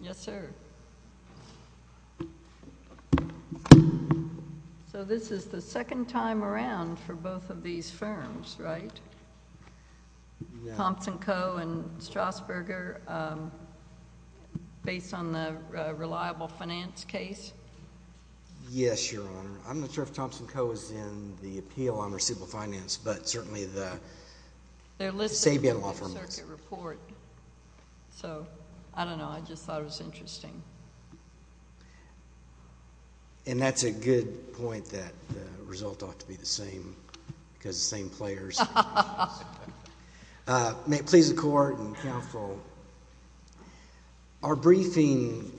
Yes, sir. So this is the second time around for both of these firms, right? Thompson Co. and Strasburger, based on the reliable finance case? Yes, Your Honor. I'm not sure if Thompson Co. is in the appeal on receivable finance, but certainly the Sabian Law Firm is. They're listed in the New Circuit report. So, I don't know, I just thought it was interesting. And that's a good point that the result ought to be the same, because the same players. May it please the Court and counsel, our briefing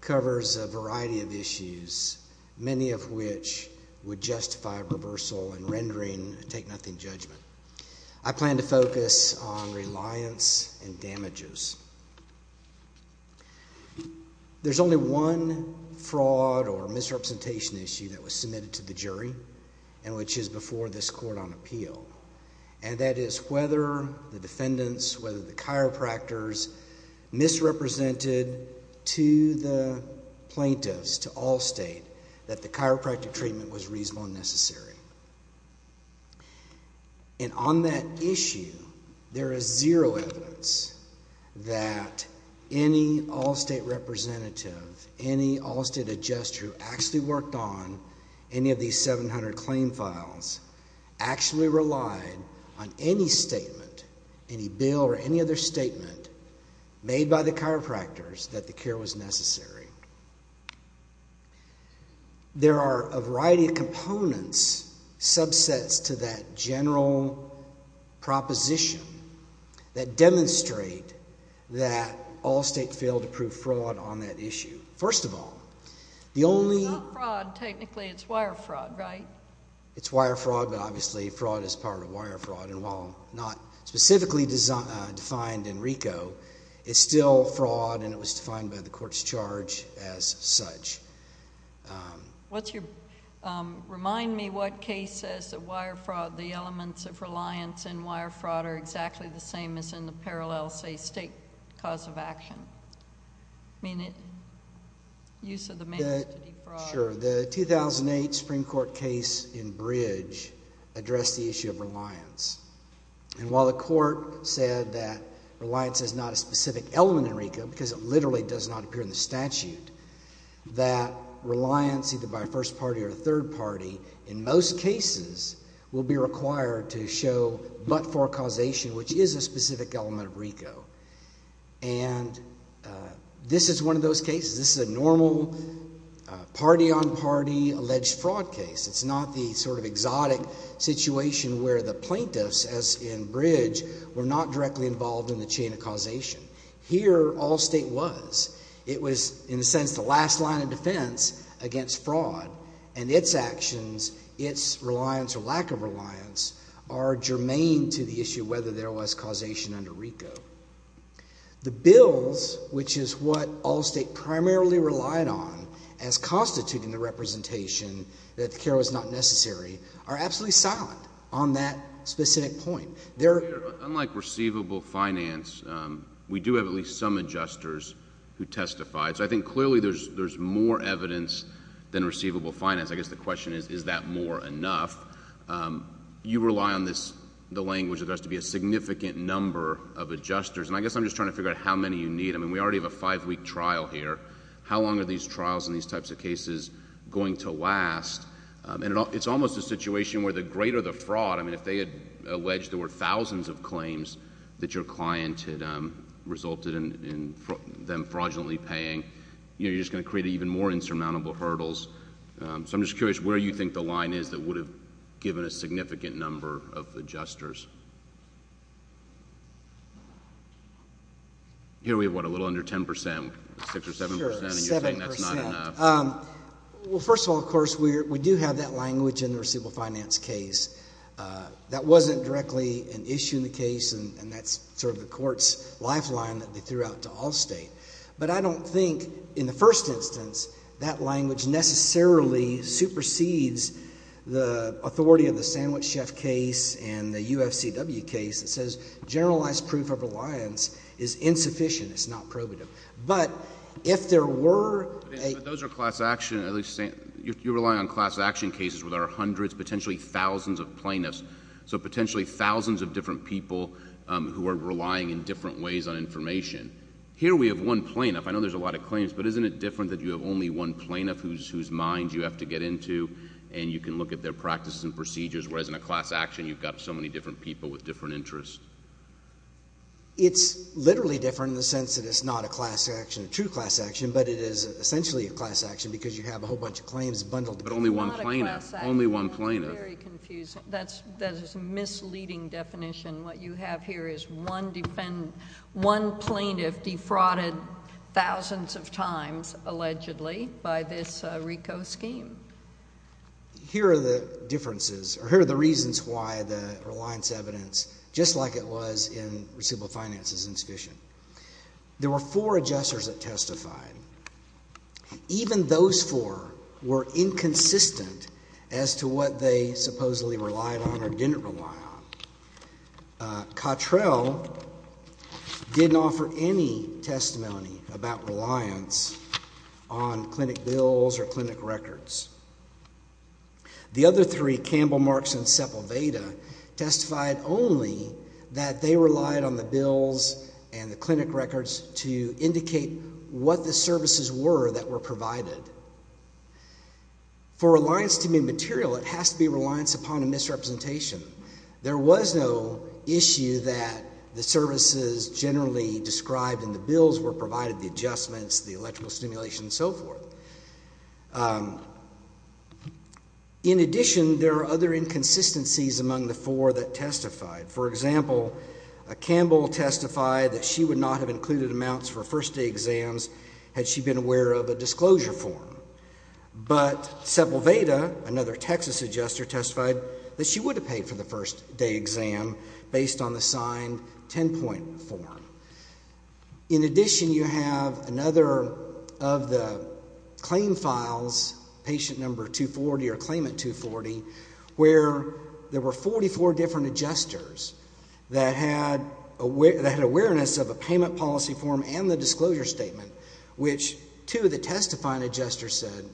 covers a variety of issues, many of which would justify reversal and rendering a take-nothing judgment. I plan to focus on reliance and damages. There's only one fraud or misrepresentation issue that was submitted to the jury and which is before this Court on appeal, and that is whether the defendants, whether the chiropractors misrepresented to the plaintiffs, to Allstate, that the chiropractic treatment was reasonable and necessary. And on that issue, there is zero evidence that any Allstate representative, any Allstate adjuster who actually worked on any of these 700 claim files actually relied on any statement, any bill or any other statement made by the chiropractors that the care was necessary. There are a variety of components, subsets to that general proposition that demonstrate that Allstate failed to prove fraud on that issue. First of all, the only— It's not fraud. Technically, it's wire fraud, right? It's wire fraud, but obviously, fraud is part of wire fraud, and while not specifically defined in RICO, it's still fraud, and it was defined by the Court's charge as such. Remind me what case says that wire fraud, the elements of reliance in wire fraud are exactly the same as in the parallel, say, state cause of action. I mean, use of the measure to defraud— Sure. The 2008 Supreme Court case in Bridge addressed the issue of reliance, and while the Court said that reliance is not a specific element in RICO because it literally does not appear in the statute, that reliance, either by a first party or a third party, in most cases will be required to show but for causation, which is a specific element of RICO, and this is one of those cases. This is a normal party-on-party alleged fraud case. It's not the sort of exotic situation where the plaintiffs, as in Bridge, were not directly involved in the chain of causation. Here, Allstate was. It was, in a sense, the last line of defense against fraud, and its actions, its reliance or lack of reliance, are germane to the issue of whether there was causation under RICO. The bills, which is what Allstate primarily relied on as constituting the representation that the care was not necessary, are absolutely silent on that specific point. They're— Unlike receivable finance, we do have at least some adjusters who testify, so I think clearly there's more evidence than receivable finance. I guess the question is, is that more enough? You rely on the language that there has to be a significant number of adjusters, and I guess I'm just trying to figure out how many you need. I mean, we already have a five-week trial here. How long are these trials and these types of cases going to last? It's almost a situation where the greater the fraud—I mean, if they had alleged there were thousands of claims that your client had resulted in them fraudulently paying, you're just going to create even more insurmountable hurdles. So I'm just curious where you think the line is that would have given a significant number of adjusters. Here we have, what, a little under 10 percent, 6 or 7 percent, and you're saying that's not enough. Sure, 7 percent. Well, first of all, of course, we do have that language in the receivable finance case. That wasn't directly an issue in the case, and that's sort of the court's lifeline that they threw out to Allstate. But I don't think, in the first instance, that language necessarily supersedes the authority of the Sandwich Chef case and the UFCW case that says generalized proof of reliance is insufficient. It's not probative. But if there were a— But those are class action—you're relying on class action cases where there are hundreds, potentially thousands of plaintiffs, so potentially thousands of different people who are relying in different ways on information. Here we have one plaintiff. I know there's a lot of claims, but isn't it different that you have only one plaintiff whose mind you have to get into, and you can look at their practices and procedures, whereas in a class action, you've got so many different people with different interests? It's literally different in the sense that it's not a class action, a true class action, but it is essentially a class action because you have a whole bunch of claims bundled together. But only one plaintiff. Not a class action. Only one plaintiff. Very confusing. That is a misleading definition. What you have here is one plaintiff defrauded thousands of times, allegedly, by this RICO scheme. Here are the differences, or here are the reasons why the reliance evidence, just like it was in receivable finance, is insufficient. There were four adjusters that testified. Even those four were inconsistent as to what they supposedly relied on or didn't rely on. Cottrell didn't offer any testimony about reliance on clinic bills or clinic records. The other three, Campbell, Marks, and Seppalveda, testified only that they relied on the bills and the clinic records to indicate what the services were that were provided. For reliance to be material, it has to be reliance upon a misrepresentation. There was no issue that the services generally described in the bills were provided, the adjustments, the electrical stimulation, and so forth. In addition, there are other inconsistencies among the four that testified. For example, Campbell testified that she would not have included amounts for first-day exams had she been aware of a disclosure form. But Seppalveda, another Texas adjuster, testified that she would have paid for the first-day exam based on the signed 10-point form. In addition, you have another of the claim files, patient number 240 or claimant 240, where there were 44 different adjusters that had awareness of a payment policy form and the disclosure statement, which two of the testifying adjusters said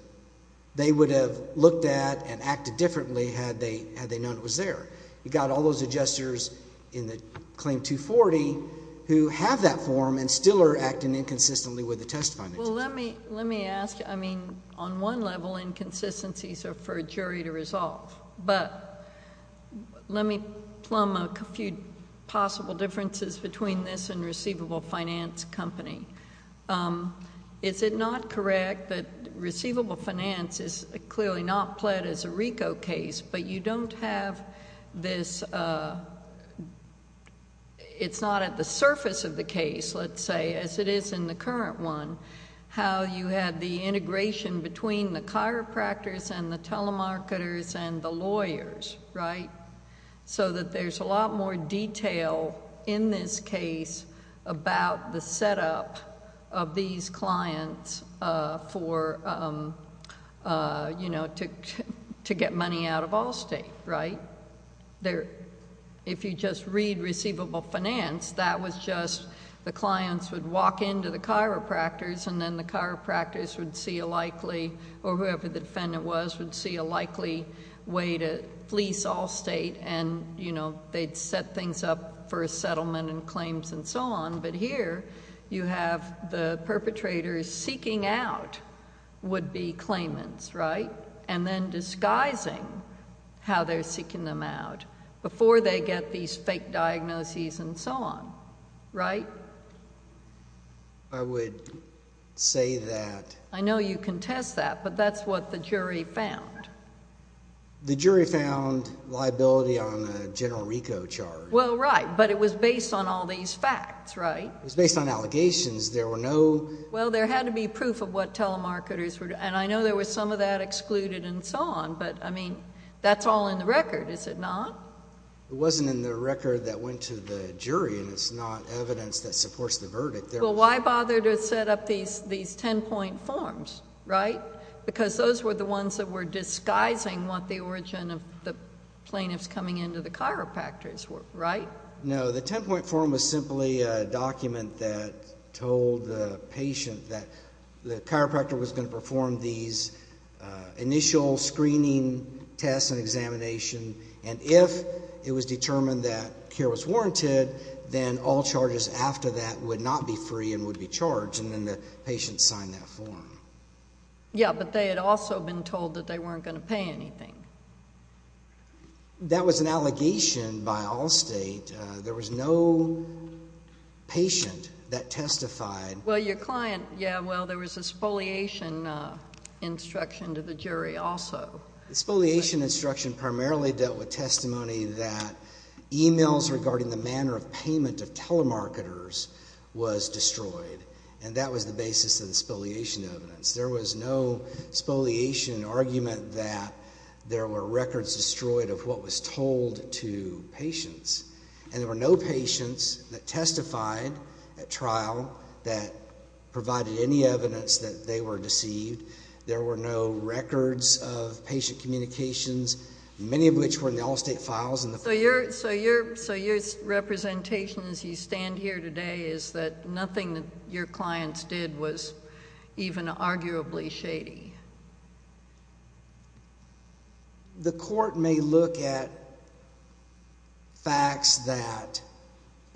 they would have looked at and acted differently had they known it was there. You got all those adjusters in the claim 240 who have that form and still are acting inconsistently with the testifying adjuster. Well, let me ask, I mean, on one level, inconsistencies are for a jury to resolve, but let me plumb a few possible differences between this and receivable finance company. Is it not correct that receivable finance is clearly not pled as a RICO case, but you don't have this... it's not at the surface of the case, let's say, as it is in the current one, how you had the integration between the chiropractors and the telemarketers and the lawyers, right? So that there's a lot more detail in this case about the setup of these clients for... to get money out of Allstate, right? If you just read receivable finance, that was just the clients would walk into the chiropractors and then the chiropractors would see a likely... or whoever the defendant was would see a likely way to fleece Allstate and they'd set things up for a settlement and claims and so on. But here, you have the perpetrators seeking out would-be claimants, right? And then disguising how they're seeking them out before they get these fake diagnoses and so on, right? I would say that... I know you contest that, but that's what the jury found. The jury found liability on a general RICO charge. Well, right, but it was based on all these facts, right? It was based on allegations. There were no... Well, there had to be proof of what telemarketers were... and I know there were some of that excluded and so on, but, I mean, that's all in the record, is it not? It wasn't in the record that went to the jury and it's not evidence that supports the verdict. Well, why bother to set up these ten-point forms, right? Because those were the ones that were disguising what the origin of the plaintiffs coming into the chiropractors were, right? No, the ten-point form was simply a document that told the patient that the chiropractor was going to perform these initial screening tests and examination, and if it was determined that care was warranted, then all charges after that would not be free and would be charged and then the patient signed that form. Yeah, but they had also been told that they weren't going to pay anything. That was an allegation by Allstate. There was no patient that testified... Well, your client, yeah, well, there was a spoliation instruction to the jury also. Spoliation instruction primarily dealt with testimony that emails regarding the manner of payment of telemarketers was destroyed and that was the basis of the spoliation evidence. There was no spoliation argument that there were records destroyed of what was told to the jury that provided any evidence that they were deceived. There were no records of patient communications, many of which were in the Allstate files and the... So your representation as you stand here today is that nothing that your clients did was even arguably shady. The court may look at facts that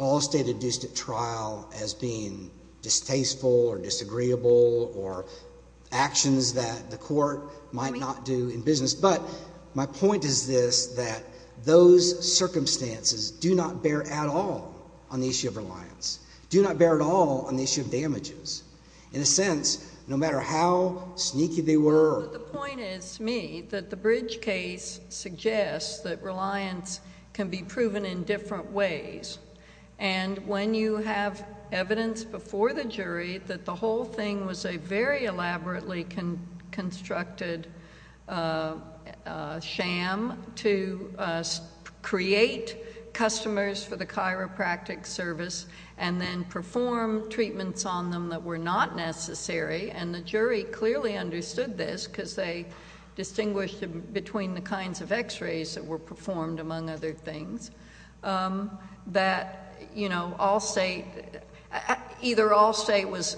Allstate induced at trial as being distasteful or disagreeable or actions that the court might not do in business, but my point is this, that those circumstances do not bear at all on the issue of reliance, do not bear at all on the issue of damages. In a sense, no matter how sneaky they were... The point is to me that the Bridge case suggests that reliance can be proven in different ways and when you have evidence before the jury that the whole thing was a very elaborately constructed sham to create customers for the chiropractic service and then perform treatments on them that were not necessary, and the jury clearly understood this because they distinguished between the kinds of x-rays that were performed, among other things, that, you know, Allstate... either Allstate was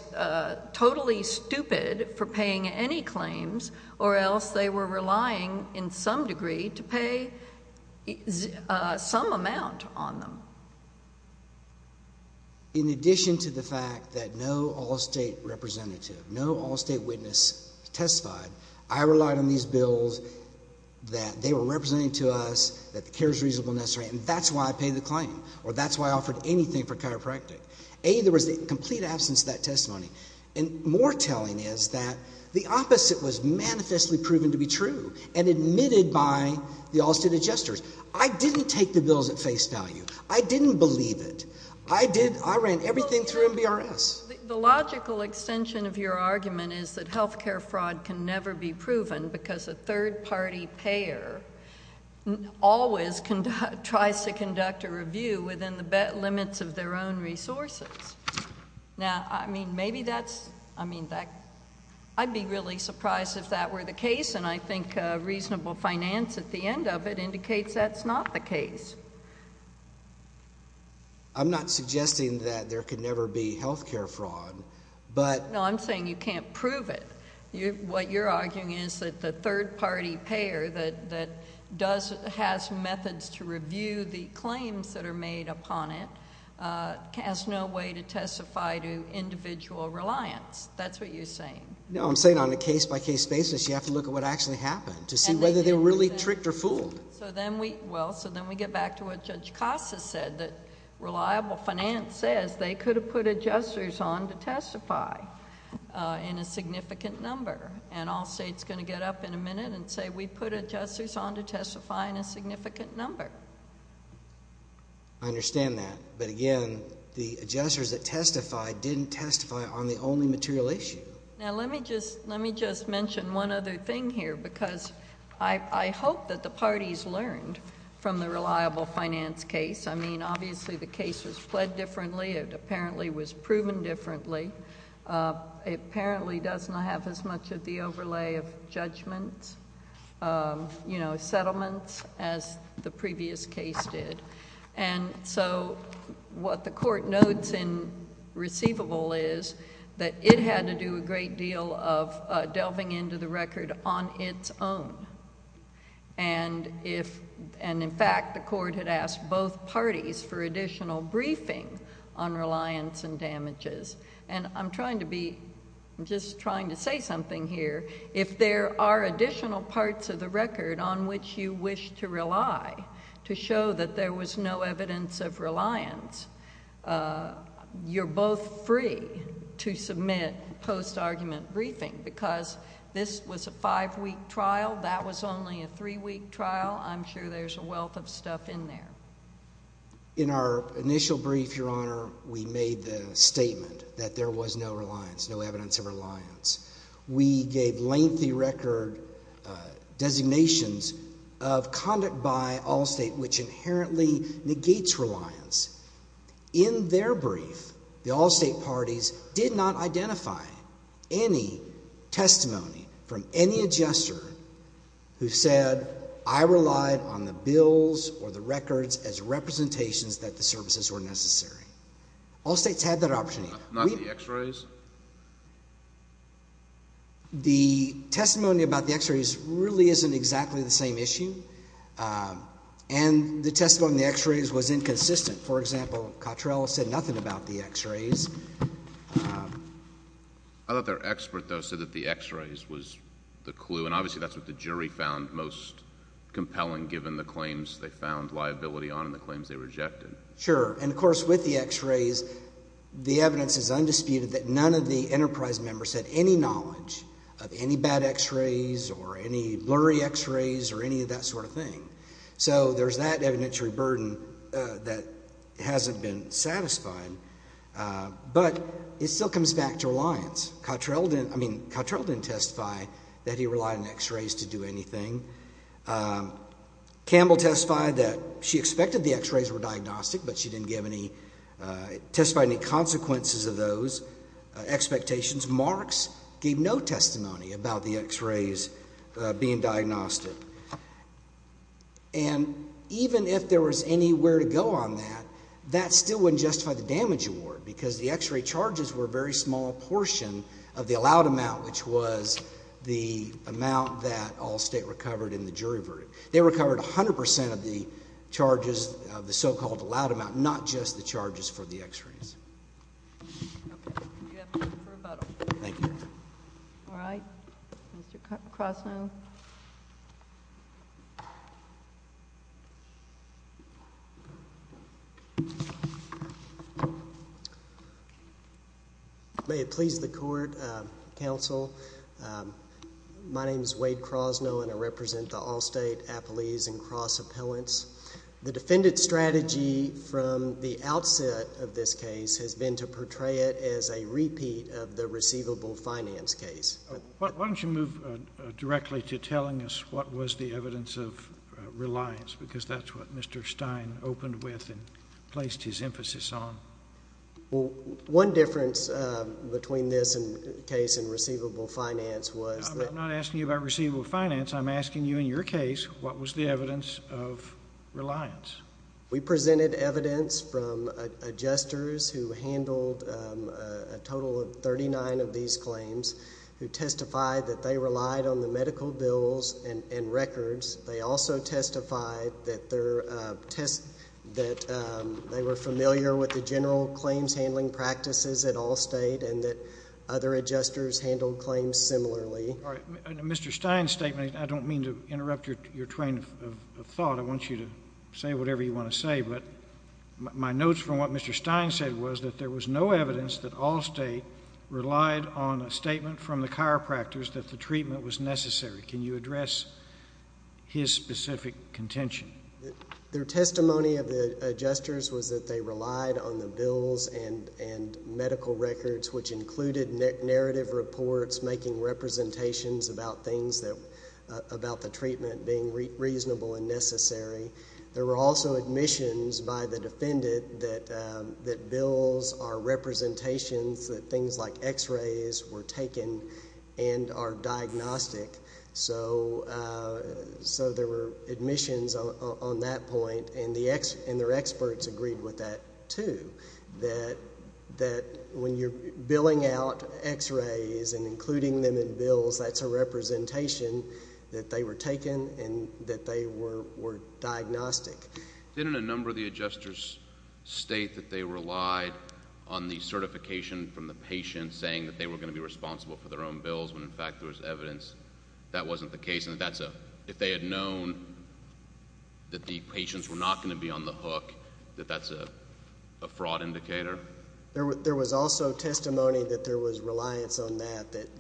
totally stupid for paying any claims or else they were relying in some degree to pay some amount on them. Now, in addition to the fact that no Allstate representative, no Allstate witness testified, I relied on these bills that they were representing to us that the care is reasonable and necessary and that's why I paid the claim or that's why I offered anything for chiropractic. A, there was a complete absence of that testimony and more telling is that the opposite was manifestly proven to be true and admitted by the Allstate adjusters. I didn't take the bills at face value. I didn't believe it. I did... I ran everything through MBRS. The logical extension of your argument is that health care fraud can never be proven because a third-party payer always tries to conduct a review within the limits of their own resources. Now, I mean, maybe that's... I mean, I'd be really surprised if that were the case and I think reasonable finance at the end of it indicates that's not the case. I'm not suggesting that there could never be health care fraud, but... No, I'm saying you can't prove it. What you're arguing is that the third-party payer that does... has methods to review the claims that are made upon it has no way to testify to individual reliance. That's what you're saying. No, I'm saying on a case-by-case basis, you have to look at what actually happened to see whether they were really tricked or fooled. So then we... well, so then we get back to what Judge Costa said, that reliable finance says they could have put adjusters on to testify in a significant number. And Allstate's going to get up in a minute and say, we put adjusters on to testify in a significant number. I understand that, but again, the adjusters that testified didn't testify on the only material issue. Now, let me just mention one other thing here because I hope that the parties learned from the reliable finance case. I mean, obviously the case was pled differently. It apparently was proven differently. It apparently does not have as much of the overlay of judgments, settlements as the previous case did. And so what the court notes in receivable is that it had to do a great deal of delving into the record on its own. And in fact, the court had asked both parties for additional briefing on reliance and damages. And I'm trying to be... I'm just trying to say something here. If there are additional parts of the record on which you wish to rely to show that there was no evidence of reliance, you're both free to submit post-argument briefing because this was a five-week trial. That was only a three-week trial. I'm sure there's a wealth of stuff in there. In our initial brief, Your Honor, we made the statement that there was no reliance, no evidence of reliance. We gave lengthy record designations of conduct by Allstate which inherently negates reliance. In their brief, the Allstate parties did not identify any testimony from any adjuster who said, I relied on the bills or the records as representations that the services were necessary. Allstate's had that opportunity. Not the x-rays? The testimony about the x-rays really isn't exactly the same issue. And the testimony on the x-rays was inconsistent. For example, Cottrell said nothing about the x-rays. I thought their expert, though, said that the x-rays was the clue. And obviously, that's what the jury found most compelling given the claims they found liability on and the claims they rejected. Sure. And of course, with the x-rays, the evidence is undisputed that none of the enterprise members had any knowledge of any bad x-rays or any blurry x-rays or any of that sort of thing. So there's that evidentiary burden that hasn't been satisfied. But it still comes back to reliance. Cottrell didn't, I mean, Cottrell didn't testify that he relied on x-rays to do anything. Campbell testified that she expected the x-rays were diagnostic, but she didn't give any, testified any consequences of those expectations. Marks gave no testimony about the x-rays being diagnostic. And even if there was anywhere to go on that, that still wouldn't justify the damage award because the x-ray charges were a very small portion of the allowed amount, which was the jury verdict. They recovered 100% of the charges of the so-called allowed amount, not just the charges for the x-rays. Okay. We have time for a vote. Thank you. All right. Mr. Crosnow. May it please the court, counsel. Um, my name is Wade Crosnow and I represent the Allstate, Appalese, and Cross Appellants. The defendant's strategy from the outset of this case has been to portray it as a repeat of the receivable finance case. Why don't you move directly to telling us what was the evidence of reliance? Because that's what Mr. Stein opened with and placed his emphasis on. Well, one difference between this case and receivable finance was that... I'm not asking you about receivable finance. I'm asking you in your case, what was the evidence of reliance? We presented evidence from adjusters who handled a total of 39 of these claims, who testified that they relied on the medical bills and records. They also testified that they were familiar with the general claims handling practices at Allstate and that other adjusters handled claims similarly. All right. Mr. Stein's statement, I don't mean to interrupt your train of thought. I want you to say whatever you want to say, but my notes from what Mr. Stein said was that there was no evidence that Allstate relied on a statement from the chiropractors that the treatment was necessary. Can you address his specific contention? Their testimony of the adjusters was that they relied on the bills and medical records, which included narrative reports, making representations about the treatment being reasonable and necessary. There were also admissions by the defendant that bills are representations that things like x-rays were taken and are diagnostic. So there were admissions on that point, and their experts agreed with that too, that when you're billing out x-rays and including them in bills, that's a representation that they were taken and that they were diagnostic. Didn't a number of the adjusters state that they relied on the certification from the patient saying that they were going to be responsible for their own bills when, in fact, there was evidence that wasn't the case? And if they had known that the patients were not going to be on the hook, that that's a fraud indicator? There was also testimony that there was reliance on that, that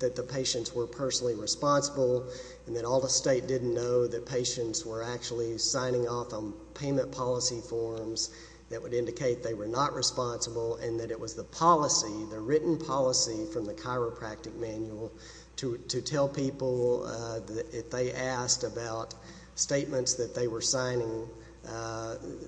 the patients were personally responsible, and that all the state didn't know that patients were actually signing off on payment policy forms that would indicate they were not responsible, and that it was the policy, the written policy from the chiropractic manual, to tell people that if they asked about statements that they were signing,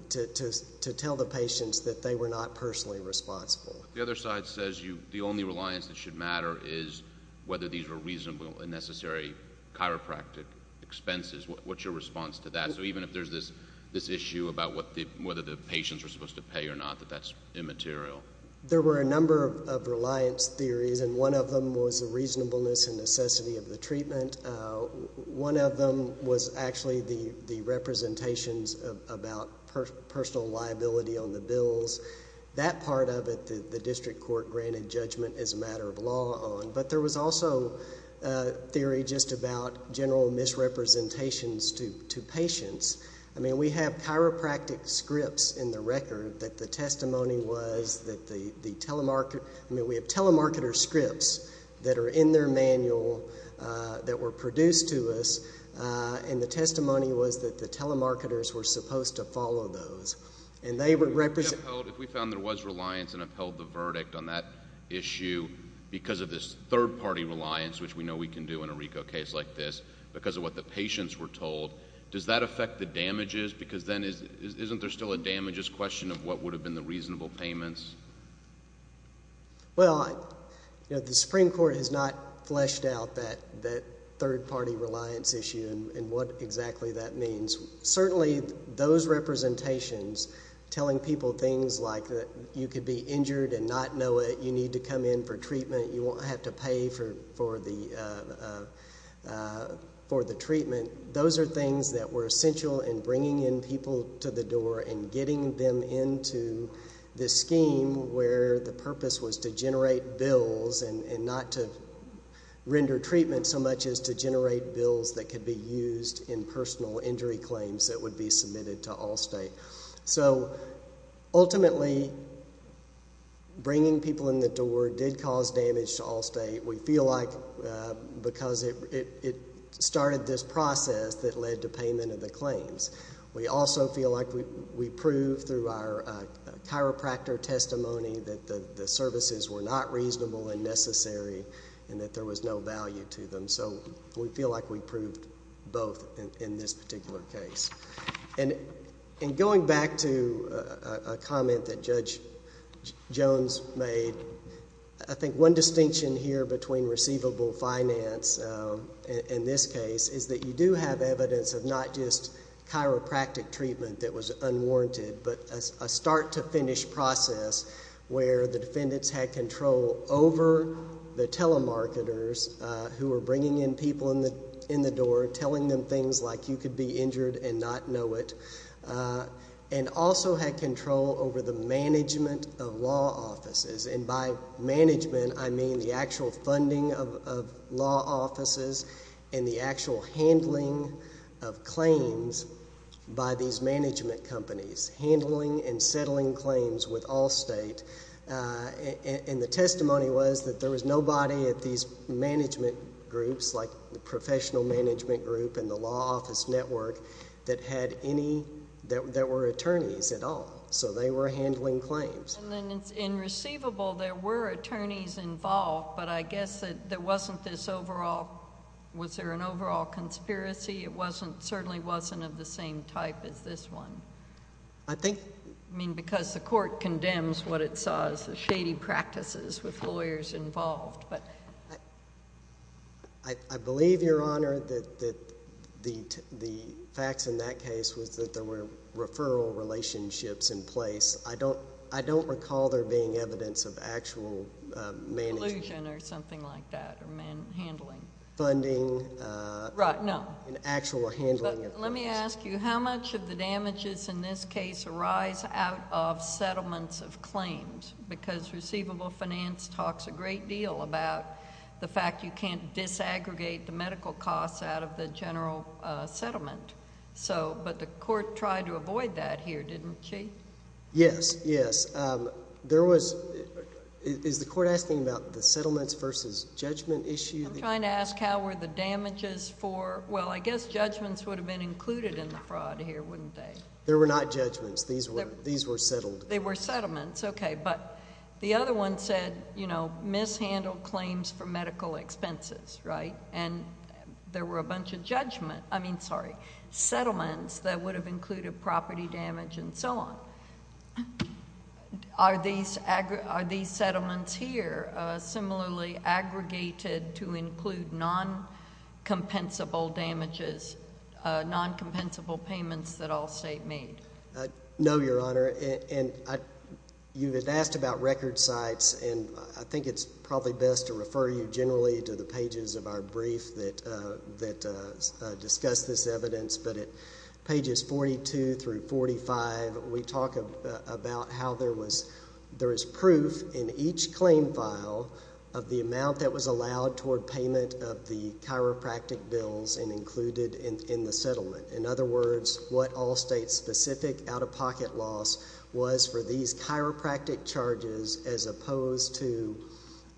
to tell the patients that they were not personally responsible. The other side says the only reliance that should matter is whether these were reasonable and necessary chiropractic expenses. What's your response to that? So even if there's this issue about whether the patients were supposed to pay or not, that that's immaterial? There were a number of reliance theories, and one of them was the reasonableness and necessity of the treatment. One of them was actually the representations about personal liability on the bills. That part of it, the district court granted judgment as a matter of law on. But there was also a theory just about general misrepresentations to patients. I mean, we have chiropractic scripts in the record that the testimony was that the telemarketer – I mean, we have telemarketer scripts that are in their manual that were produced to us, and the testimony was that the telemarketers were supposed to follow those, and they were – If we found there was reliance and upheld the verdict on that issue because of this third-party reliance, which we know we can do in a RICO case like this because of what the patients were told, does that affect the damages? Because then isn't there still a damages question of what would have been the reasonable payments? Well, the Supreme Court has not fleshed out that third-party reliance issue and what exactly that means. Certainly, those representations telling people things like that you could be injured and not know it, you need to come in for treatment, you won't have to pay for the treatment, those are things that were essential in bringing in people to the door and getting them into this scheme where the purpose was to generate bills and not to render treatment so much as to generate bills that could be used in personal injury claims that would be submitted to Allstate. So ultimately, bringing people in the door did cause damage to Allstate. We feel like because it started this process that led to payment of the claims. We also feel like we proved through our chiropractor testimony that the services were not reasonable and necessary and that there was no value to them. So we feel like we proved both in this particular case. And going back to a comment that Judge Jones made, I think one distinction here between receivable finance in this case is that you do have evidence of not just chiropractic treatment that was unwarranted but a start-to-finish process where the defendants had control over the telemarketers who were bringing in people in the door, telling them things like you could be injured and not know it, and also had control over the management of law offices. And by management, I mean the actual funding of law offices and the actual handling of claims by these management companies, handling and settling claims with Allstate. And the testimony was that there was nobody at these management groups, like the professional management group and the law office network, that had any, that were attorneys at all. So they were handling claims. And then in receivable, there were attorneys involved, but I guess that there wasn't this overall, was there an overall conspiracy? It wasn't, certainly wasn't of the same type as this one. I think... I mean, because the court condemns what it saw as the shady practices with lawyers involved. But... I believe, Your Honor, that the facts in that case was that there were referral relationships in place. I don't recall there being evidence of actual management... Collusion or something like that, or handling... Funding... Right, no. An actual handling of... Let me ask you, how much of the damages in this case arise out of settlements of claims? Because receivable finance talks a great deal about the fact you can't disaggregate the medical costs out of the general settlement. But the court tried to avoid that here, didn't she? Yes, yes. There was... Is the court asking about the settlements versus judgment issue? I'm trying to ask how were the damages for... Well, I guess judgments would have been included in the fraud here, wouldn't they? There were not judgments. These were settled. They were settlements, okay. The other one said, you know, mishandled claims for medical expenses, right? There were a bunch of settlements that would have included property damage and so on. Are these settlements here similarly aggregated to include non-compensable damages, non-compensable payments that Allstate made? No, Your Honor. And you had asked about record sites, and I think it's probably best to refer you generally to the pages of our brief that discuss this evidence. But at pages 42 through 45, we talk about how there is proof in each claim file of the amount that was allowed toward payment of the chiropractic bills and included in the settlement. In other words, what Allstate's specific out-of-pocket loss was for these chiropractic charges as opposed to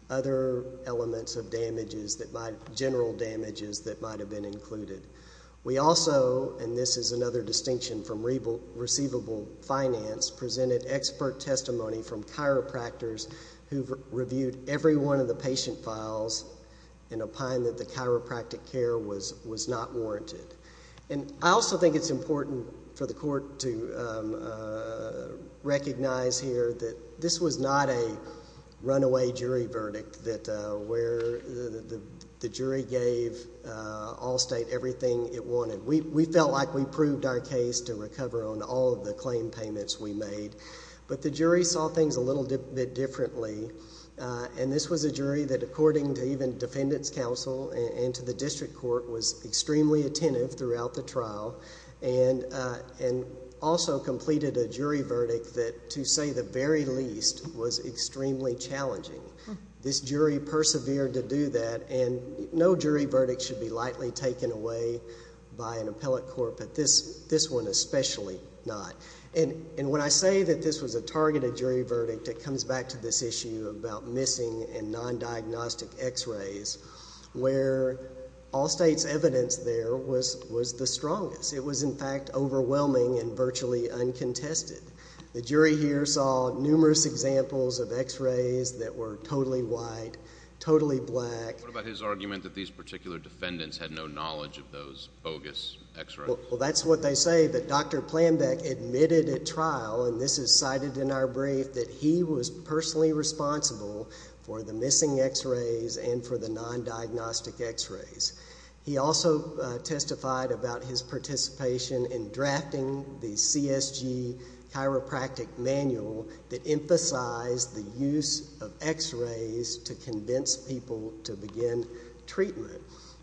other elements of damages that might... general damages that might have been included. We also, and this is another distinction from receivable finance, presented expert testimony from chiropractors who've reviewed every one of the patient files and opined that the chiropractic care was not warranted. And I also think it's important for the court to recognize here that this was not a runaway jury verdict that where the jury gave Allstate everything it wanted. We felt like we proved our case to recover on all of the claim payments we made. But the jury saw things a little bit differently, and this was a jury that according to even the attentive throughout the trial and also completed a jury verdict that to say the very least was extremely challenging. This jury persevered to do that, and no jury verdict should be lightly taken away by an appellate court, but this one especially not. And when I say that this was a targeted jury verdict, it comes back to this issue about was the strongest. It was in fact overwhelming and virtually uncontested. The jury here saw numerous examples of x-rays that were totally white, totally black. What about his argument that these particular defendants had no knowledge of those bogus x-rays? Well, that's what they say that Dr. Planbeck admitted at trial, and this is cited in our brief, that he was personally responsible for the missing x-rays and for the non-diagnostic x-rays. He also testified about his participation in drafting the CSG chiropractic manual that emphasized the use of x-rays to convince people to begin treatment.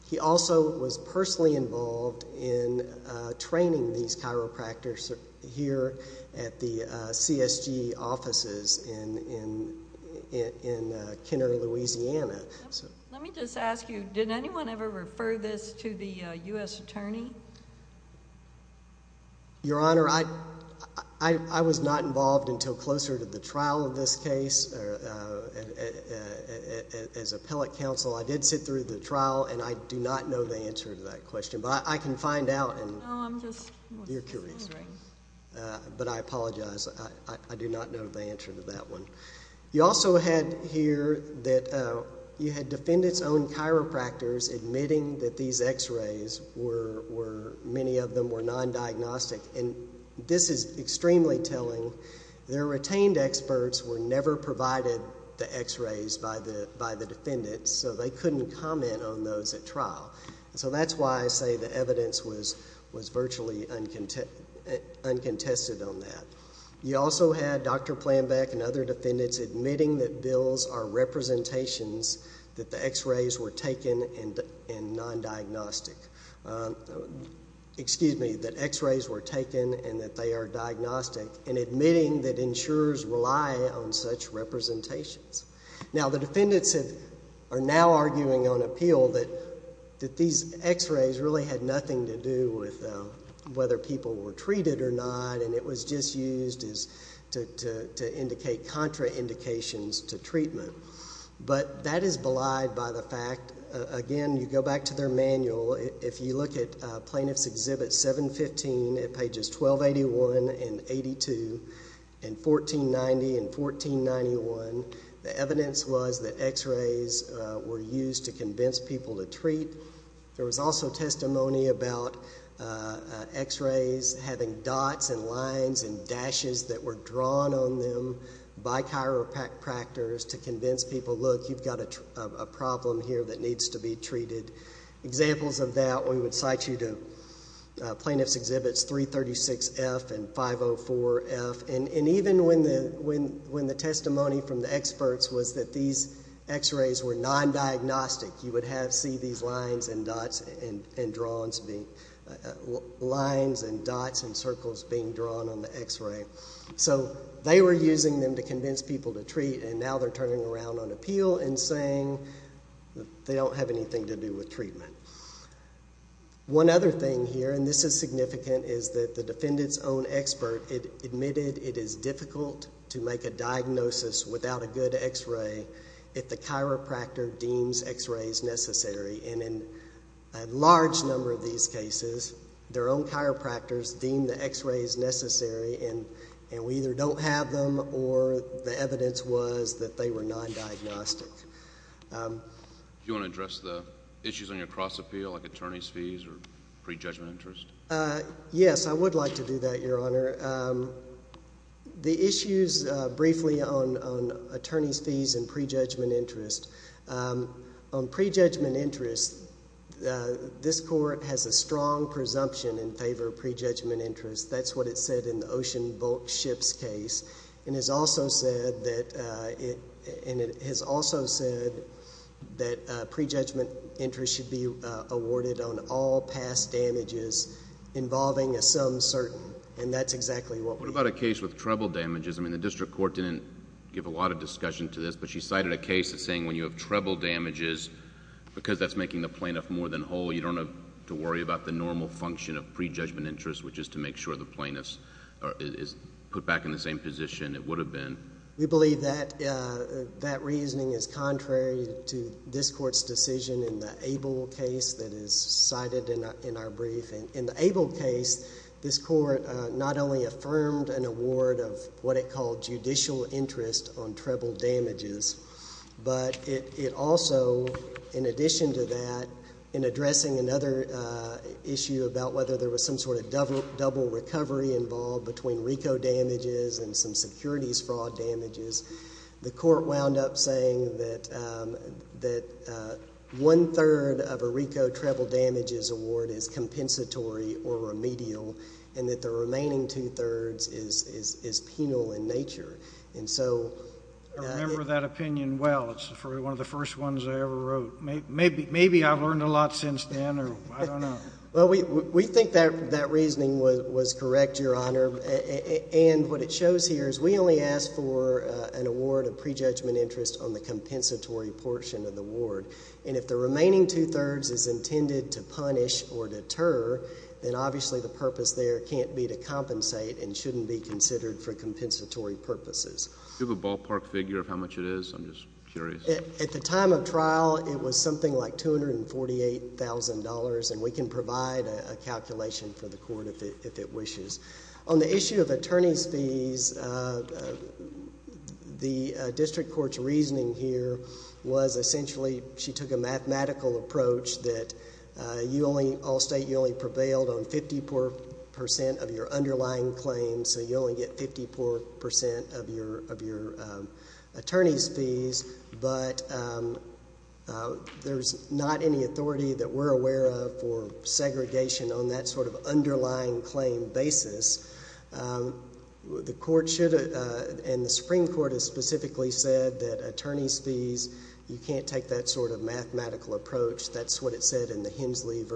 He also was personally involved in training these chiropractors here at the CSG offices in Kenner, Louisiana. Let me just ask you, did anyone ever refer this to the U.S. attorney? Your Honor, I was not involved until closer to the trial of this case as appellate counsel. I did sit through the trial, and I do not know the answer to that question, but I can find out. No, I'm just wondering. You're curious, right? But I apologize. I do not know the answer to that one. You also had here that you had defendants' own chiropractors admitting that these x-rays were, many of them were non-diagnostic, and this is extremely telling. Their retained experts were never provided the x-rays by the defendants, so they couldn't comment on those at trial. So that's why I say the evidence was virtually uncontested on that. You also had Dr. Planbeck and other defendants admitting that bills are representations that the x-rays were taken and non-diagnostic. Excuse me, that x-rays were taken and that they are diagnostic, and admitting that insurers rely on such representations. Now, the defendants are now arguing on appeal that these x-rays really had nothing to do with whether people were treated or not, and it was just used to indicate contraindications to treatment. But that is belied by the fact, again, you go back to their manual. If you look at Plaintiff's Exhibit 715 at pages 1281 and 82 and 1490 and 1491, the evidence was that x-rays were used to convince people to treat. There was also testimony about x-rays having dots and lines and dashes that were drawn on them by chiropractors to convince people, look, you've got a problem here that needs to be treated. Examples of that, we would cite you to Plaintiff's Exhibits 336F and 504F. And even when the testimony from the experts was that these x-rays were non-diagnostic, you would see these lines and dots and circles being drawn on the x-ray. So they were using them to convince people to treat, and now they're turning around on appeal and saying they don't have anything to do with treatment. One other thing here, and this is significant, is that the defendant's own expert admitted it is difficult to make a diagnosis without a good x-ray if the chiropractor deems x-rays necessary. And in a large number of these cases, their own chiropractors deemed the x-rays necessary, and we either don't have them or the evidence was that they were non-diagnostic. Do you want to address the issues on your cross-appeal, like attorney's fees or prejudgment interest? Yes, I would like to do that, Your Honor. The issues, briefly, on attorney's fees and prejudgment interest. On prejudgment interest, this Court has a strong presumption in favor of prejudgment interest. That's what it said in the Ocean Bulkships case, and it has also said that prejudgment interest should be awarded on all past damages involving a some certain, and that's exactly what we did. What about a case with treble damages? I mean, the district court didn't give a lot of discussion to this, but she cited a case that's saying when you have treble damages, because that's making the plaintiff more than whole, you don't have to worry about the normal function of prejudgment interest, which is to make sure the plaintiff is put back in the same position it would have been. We believe that that reasoning is contrary to this Court's decision in the Abel case that is cited in our brief. In the Abel case, this Court not only affirmed an award of what it called judicial interest on treble damages, but it also, in addition to that, in addressing another issue about whether there was some sort of double recovery involved between RICO damages and some securities fraud damages, the Court wound up saying that one-third of a RICO treble damages award is compensatory or remedial, and that the remaining two-thirds is penal in nature. And so— I remember that opinion well. It's one of the first ones I ever wrote. Maybe I've learned a lot since then, or I don't know. Well, we think that reasoning was correct, Your Honor, and what it shows here is we only asked for an award of prejudgment interest on the compensatory portion of the award, and if the remaining two-thirds is intended to punish or deter, then obviously the purpose there can't be to compensate and shouldn't be considered for compensatory purposes. Do you have a ballpark figure of how much it is? I'm just curious. At the time of trial, it was something like $248,000, and we can provide a calculation for the Court if it wishes. On the issue of attorney's fees, the district court's reasoning here was essentially she took a mathematical approach that you only—all state, you only prevailed on 50% of your underlying claims, so you only get 54% of your attorney's fees, but there's not any authority that The Supreme Court has specifically said that attorney's fees, you can't take that sort of mathematical approach. That's what it said in the Hensley v.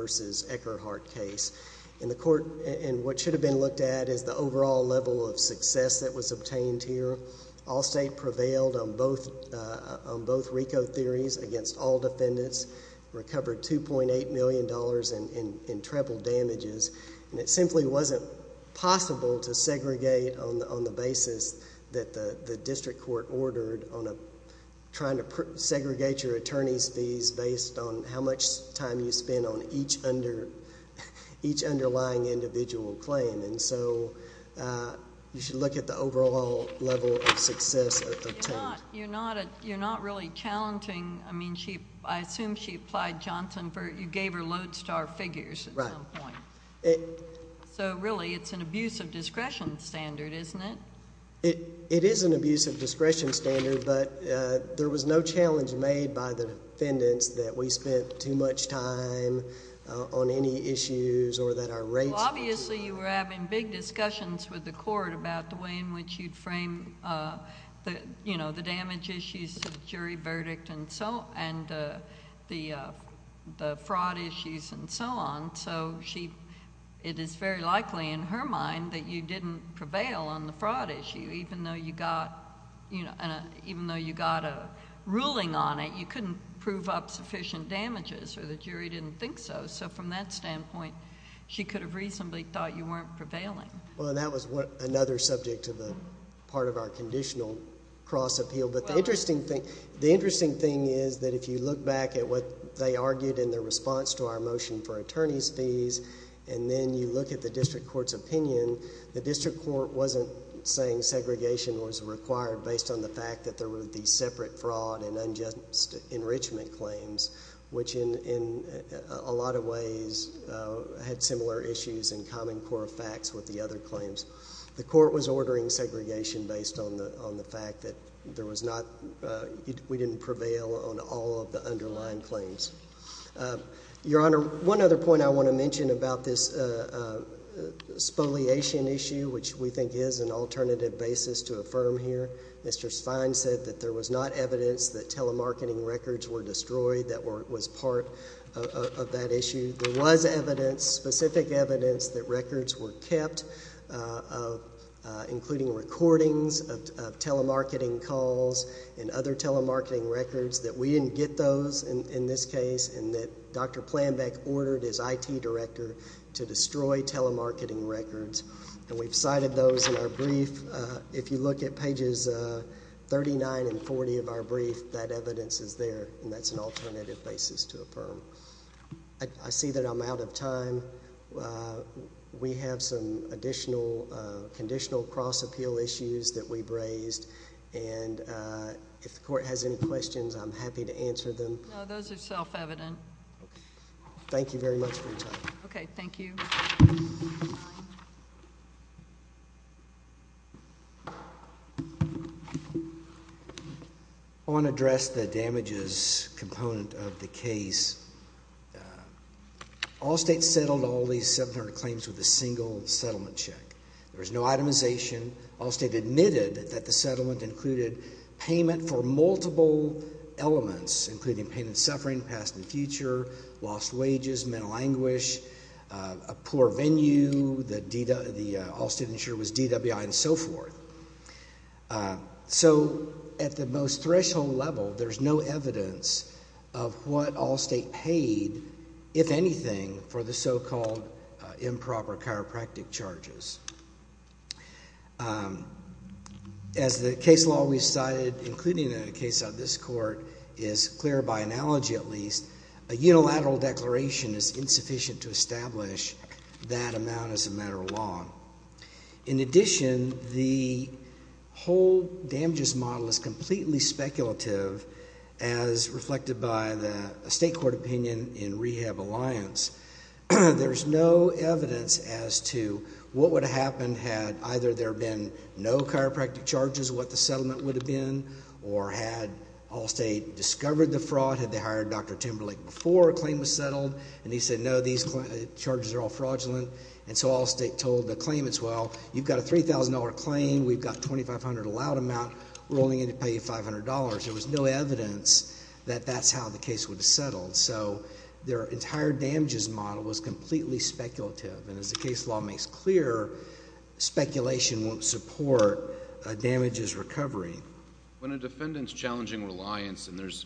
Eckerhart case, and what should have been looked at is the overall level of success that was obtained here. All state prevailed on both RICO theories against all defendants, recovered $2.8 million in treble damages, and it simply wasn't possible to segregate on the basis that the district court ordered on trying to segregate your attorney's fees based on how much time you spend on each underlying individual claim, and so you should look at the overall level of success obtained. You're not really challenging—I mean, I assume she applied Johnson for—you gave her lodestar figures at some point. So really, it's an abuse of discretion standard, isn't it? It is an abuse of discretion standard, but there was no challenge made by the defendants that we spent too much time on any issues or that our rates— Well, obviously, you were having big discussions with the court about the way in which you'd the fraud issues and so on, so it is very likely in her mind that you didn't prevail on the fraud issue, even though you got a ruling on it. You couldn't prove up sufficient damages, or the jury didn't think so. So from that standpoint, she could have reasonably thought you weren't prevailing. Well, and that was another subject to the part of our conditional cross-appeal. But the interesting thing is that if you look back at what they argued in their response to our motion for attorney's fees, and then you look at the district court's opinion, the district court wasn't saying segregation was required based on the fact that there would be separate fraud and unjust enrichment claims, which in a lot of ways had similar issues and common core facts with the other claims. The court was ordering segregation based on the fact that we didn't prevail on all of the underlying claims. Your Honor, one other point I want to mention about this spoliation issue, which we think is an alternative basis to affirm here. Mr. Spine said that there was not evidence that telemarketing records were destroyed that was part of that issue. There was evidence, specific evidence, that records were kept, including recordings of telemarketing calls and other telemarketing records, that we didn't get those in this case, and that Dr. Planbeck ordered his IT director to destroy telemarketing records. And we've cited those in our brief. If you look at pages 39 and 40 of our brief, that evidence is there, and that's an alternative basis to affirm. I see that I'm out of time. We have some additional conditional cross-appeal issues that we've raised, and if the court has any questions, I'm happy to answer them. No, those are self-evident. Thank you very much for your time. Okay, thank you. I want to address the damages component of the case. Allstate settled all these 700 claims with a single settlement check. There was no itemization. Allstate admitted that the settlement included payment for multiple elements, including pain and suffering, past and future, lost wages, mental anguish, a poor venue, Allstate insured was DWI, and so forth. So, at the most threshold level, there's no evidence of what Allstate paid, if anything, for the so-called improper chiropractic charges. As the case law we've cited, including the case of this court, is clear by analogy, at least, a unilateral declaration is insufficient to establish that amount as a matter of law. In addition, the whole damages model is completely speculative, as reflected by the state court opinion in Rehab Alliance. There's no evidence as to what would have happened had either there been no chiropractic charges, what the settlement would have been, or had Allstate discovered the fraud, had they hired Dr. Timberlake before a claim was settled, and he said, no, these charges are all fraudulent. And so Allstate told the claimants, well, you've got a $3,000 claim, we've got $2,500 allowed amount, we're only going to pay you $500. So, their entire damages model was completely speculative, and as the case law makes clear, speculation won't support a damages recovery. When a defendant's challenging reliance, and there's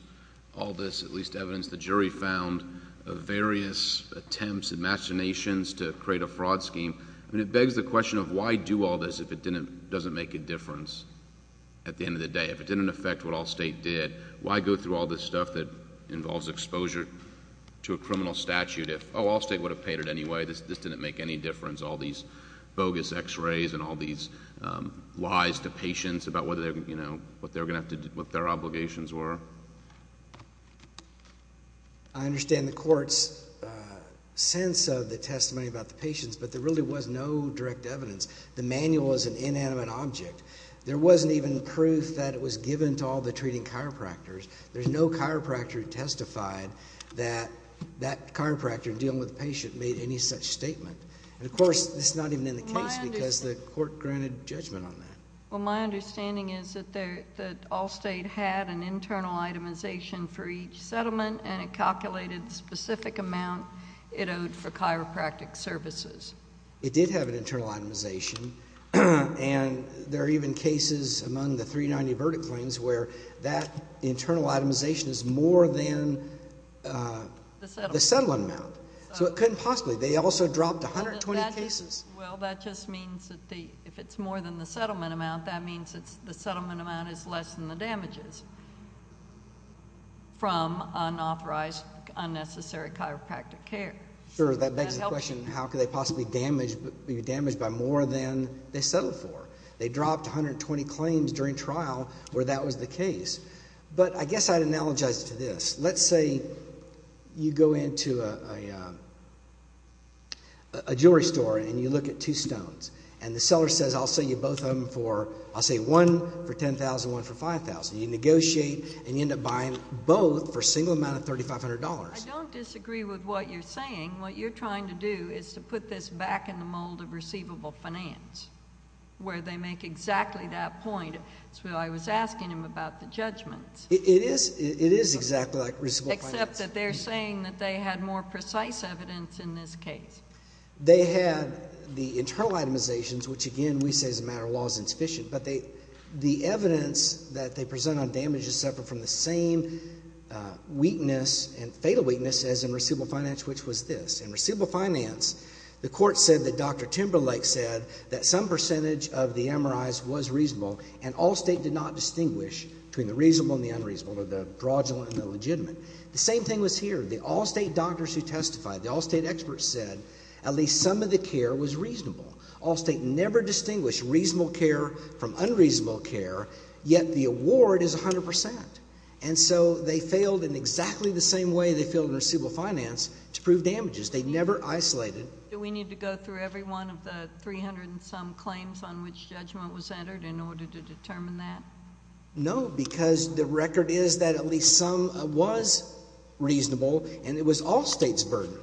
all this, at least, evidence the jury found of various attempts and machinations to create a fraud scheme, I mean, it begs the question of why do all this if it doesn't make a difference at the end of the day? If it didn't affect what Allstate did, why go through all this stuff that involves exposure to a criminal statute if, oh, Allstate would have paid it anyway, this didn't make any difference, all these bogus x-rays and all these lies to patients about whether, you know, what they were going to have to do, what their obligations were? I understand the court's sense of the testimony about the patients, but there really was no direct evidence. The manual is an inanimate object. There wasn't even proof that it was given to all the treating chiropractors. There's no chiropractor who testified that that chiropractor dealing with the patient made any such statement. And, of course, it's not even in the case because the court granted judgment on that. Well, my understanding is that Allstate had an internal itemization for each settlement and it calculated the specific amount it owed for chiropractic services. It did have an internal itemization, and there are even cases among the 390 verdict claims where that internal itemization is more than the settlement amount. So it couldn't possibly. They also dropped 120 cases. Well, that just means that if it's more than the settlement amount, that means the settlement amount is less than the damages from unauthorized, unnecessary chiropractic care. Sure, that begs the question, how could they possibly be damaged by more than they settled for? They dropped 120 claims during trial where that was the case. But I guess I'd analogize it to this. Let's say you go into a jewelry store and you look at two stones, and the seller says I'll sell you both of them for, I'll say one for $10,000, one for $5,000. You negotiate and you end up buying both for a single amount of $3,500. I don't disagree with what you're saying. What you're trying to do is to put this back in the mold of receivable finance, where they make exactly that point. That's why I was asking him about the judgments. It is exactly like receivable finance. Except that they're saying that they had more precise evidence in this case. They had the internal itemizations, which again, we say as a matter of law is insufficient. But the evidence that they present on damage is separate from the same weakness and fatal weakness as in receivable finance, which was this. In receivable finance, the court said that Dr. Timberlake said that some percentage of the MRIs was reasonable, and Allstate did not distinguish between the reasonable and the unreasonable, or the fraudulent and the legitimate. The same thing was here. The Allstate doctors who testified, the Allstate experts said at least some of the care was reasonable. Allstate never distinguished reasonable care from unreasonable care, yet the award is 100%. And so they failed in exactly the same way they failed in receivable finance to prove damages. They never isolated. Do we need to go through every one of the 300 and some claims on which judgment was entered in order to determine that? No, because the record is that at least some was reasonable, and it was Allstate's burden.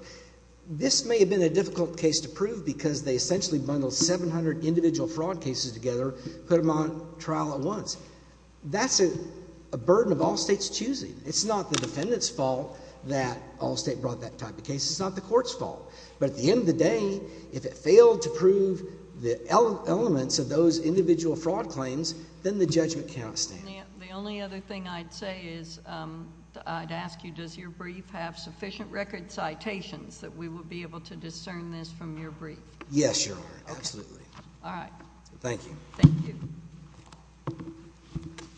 This may have been a difficult case to prove because they essentially bundled 700 individual fraud cases together, put them on trial at once. That's a burden of Allstate's choosing. It's not the defendant's fault that Allstate brought that type of case. It's not the court's fault. But at the end of the day, if it failed to prove the elements of those individual fraud claims, then the judgment can't stand. The only other thing I'd say is I'd ask you, does your brief have sufficient record citations that we would be able to discern this from your brief? Yes, Your Honor, absolutely. All right. Thank you. Thank you.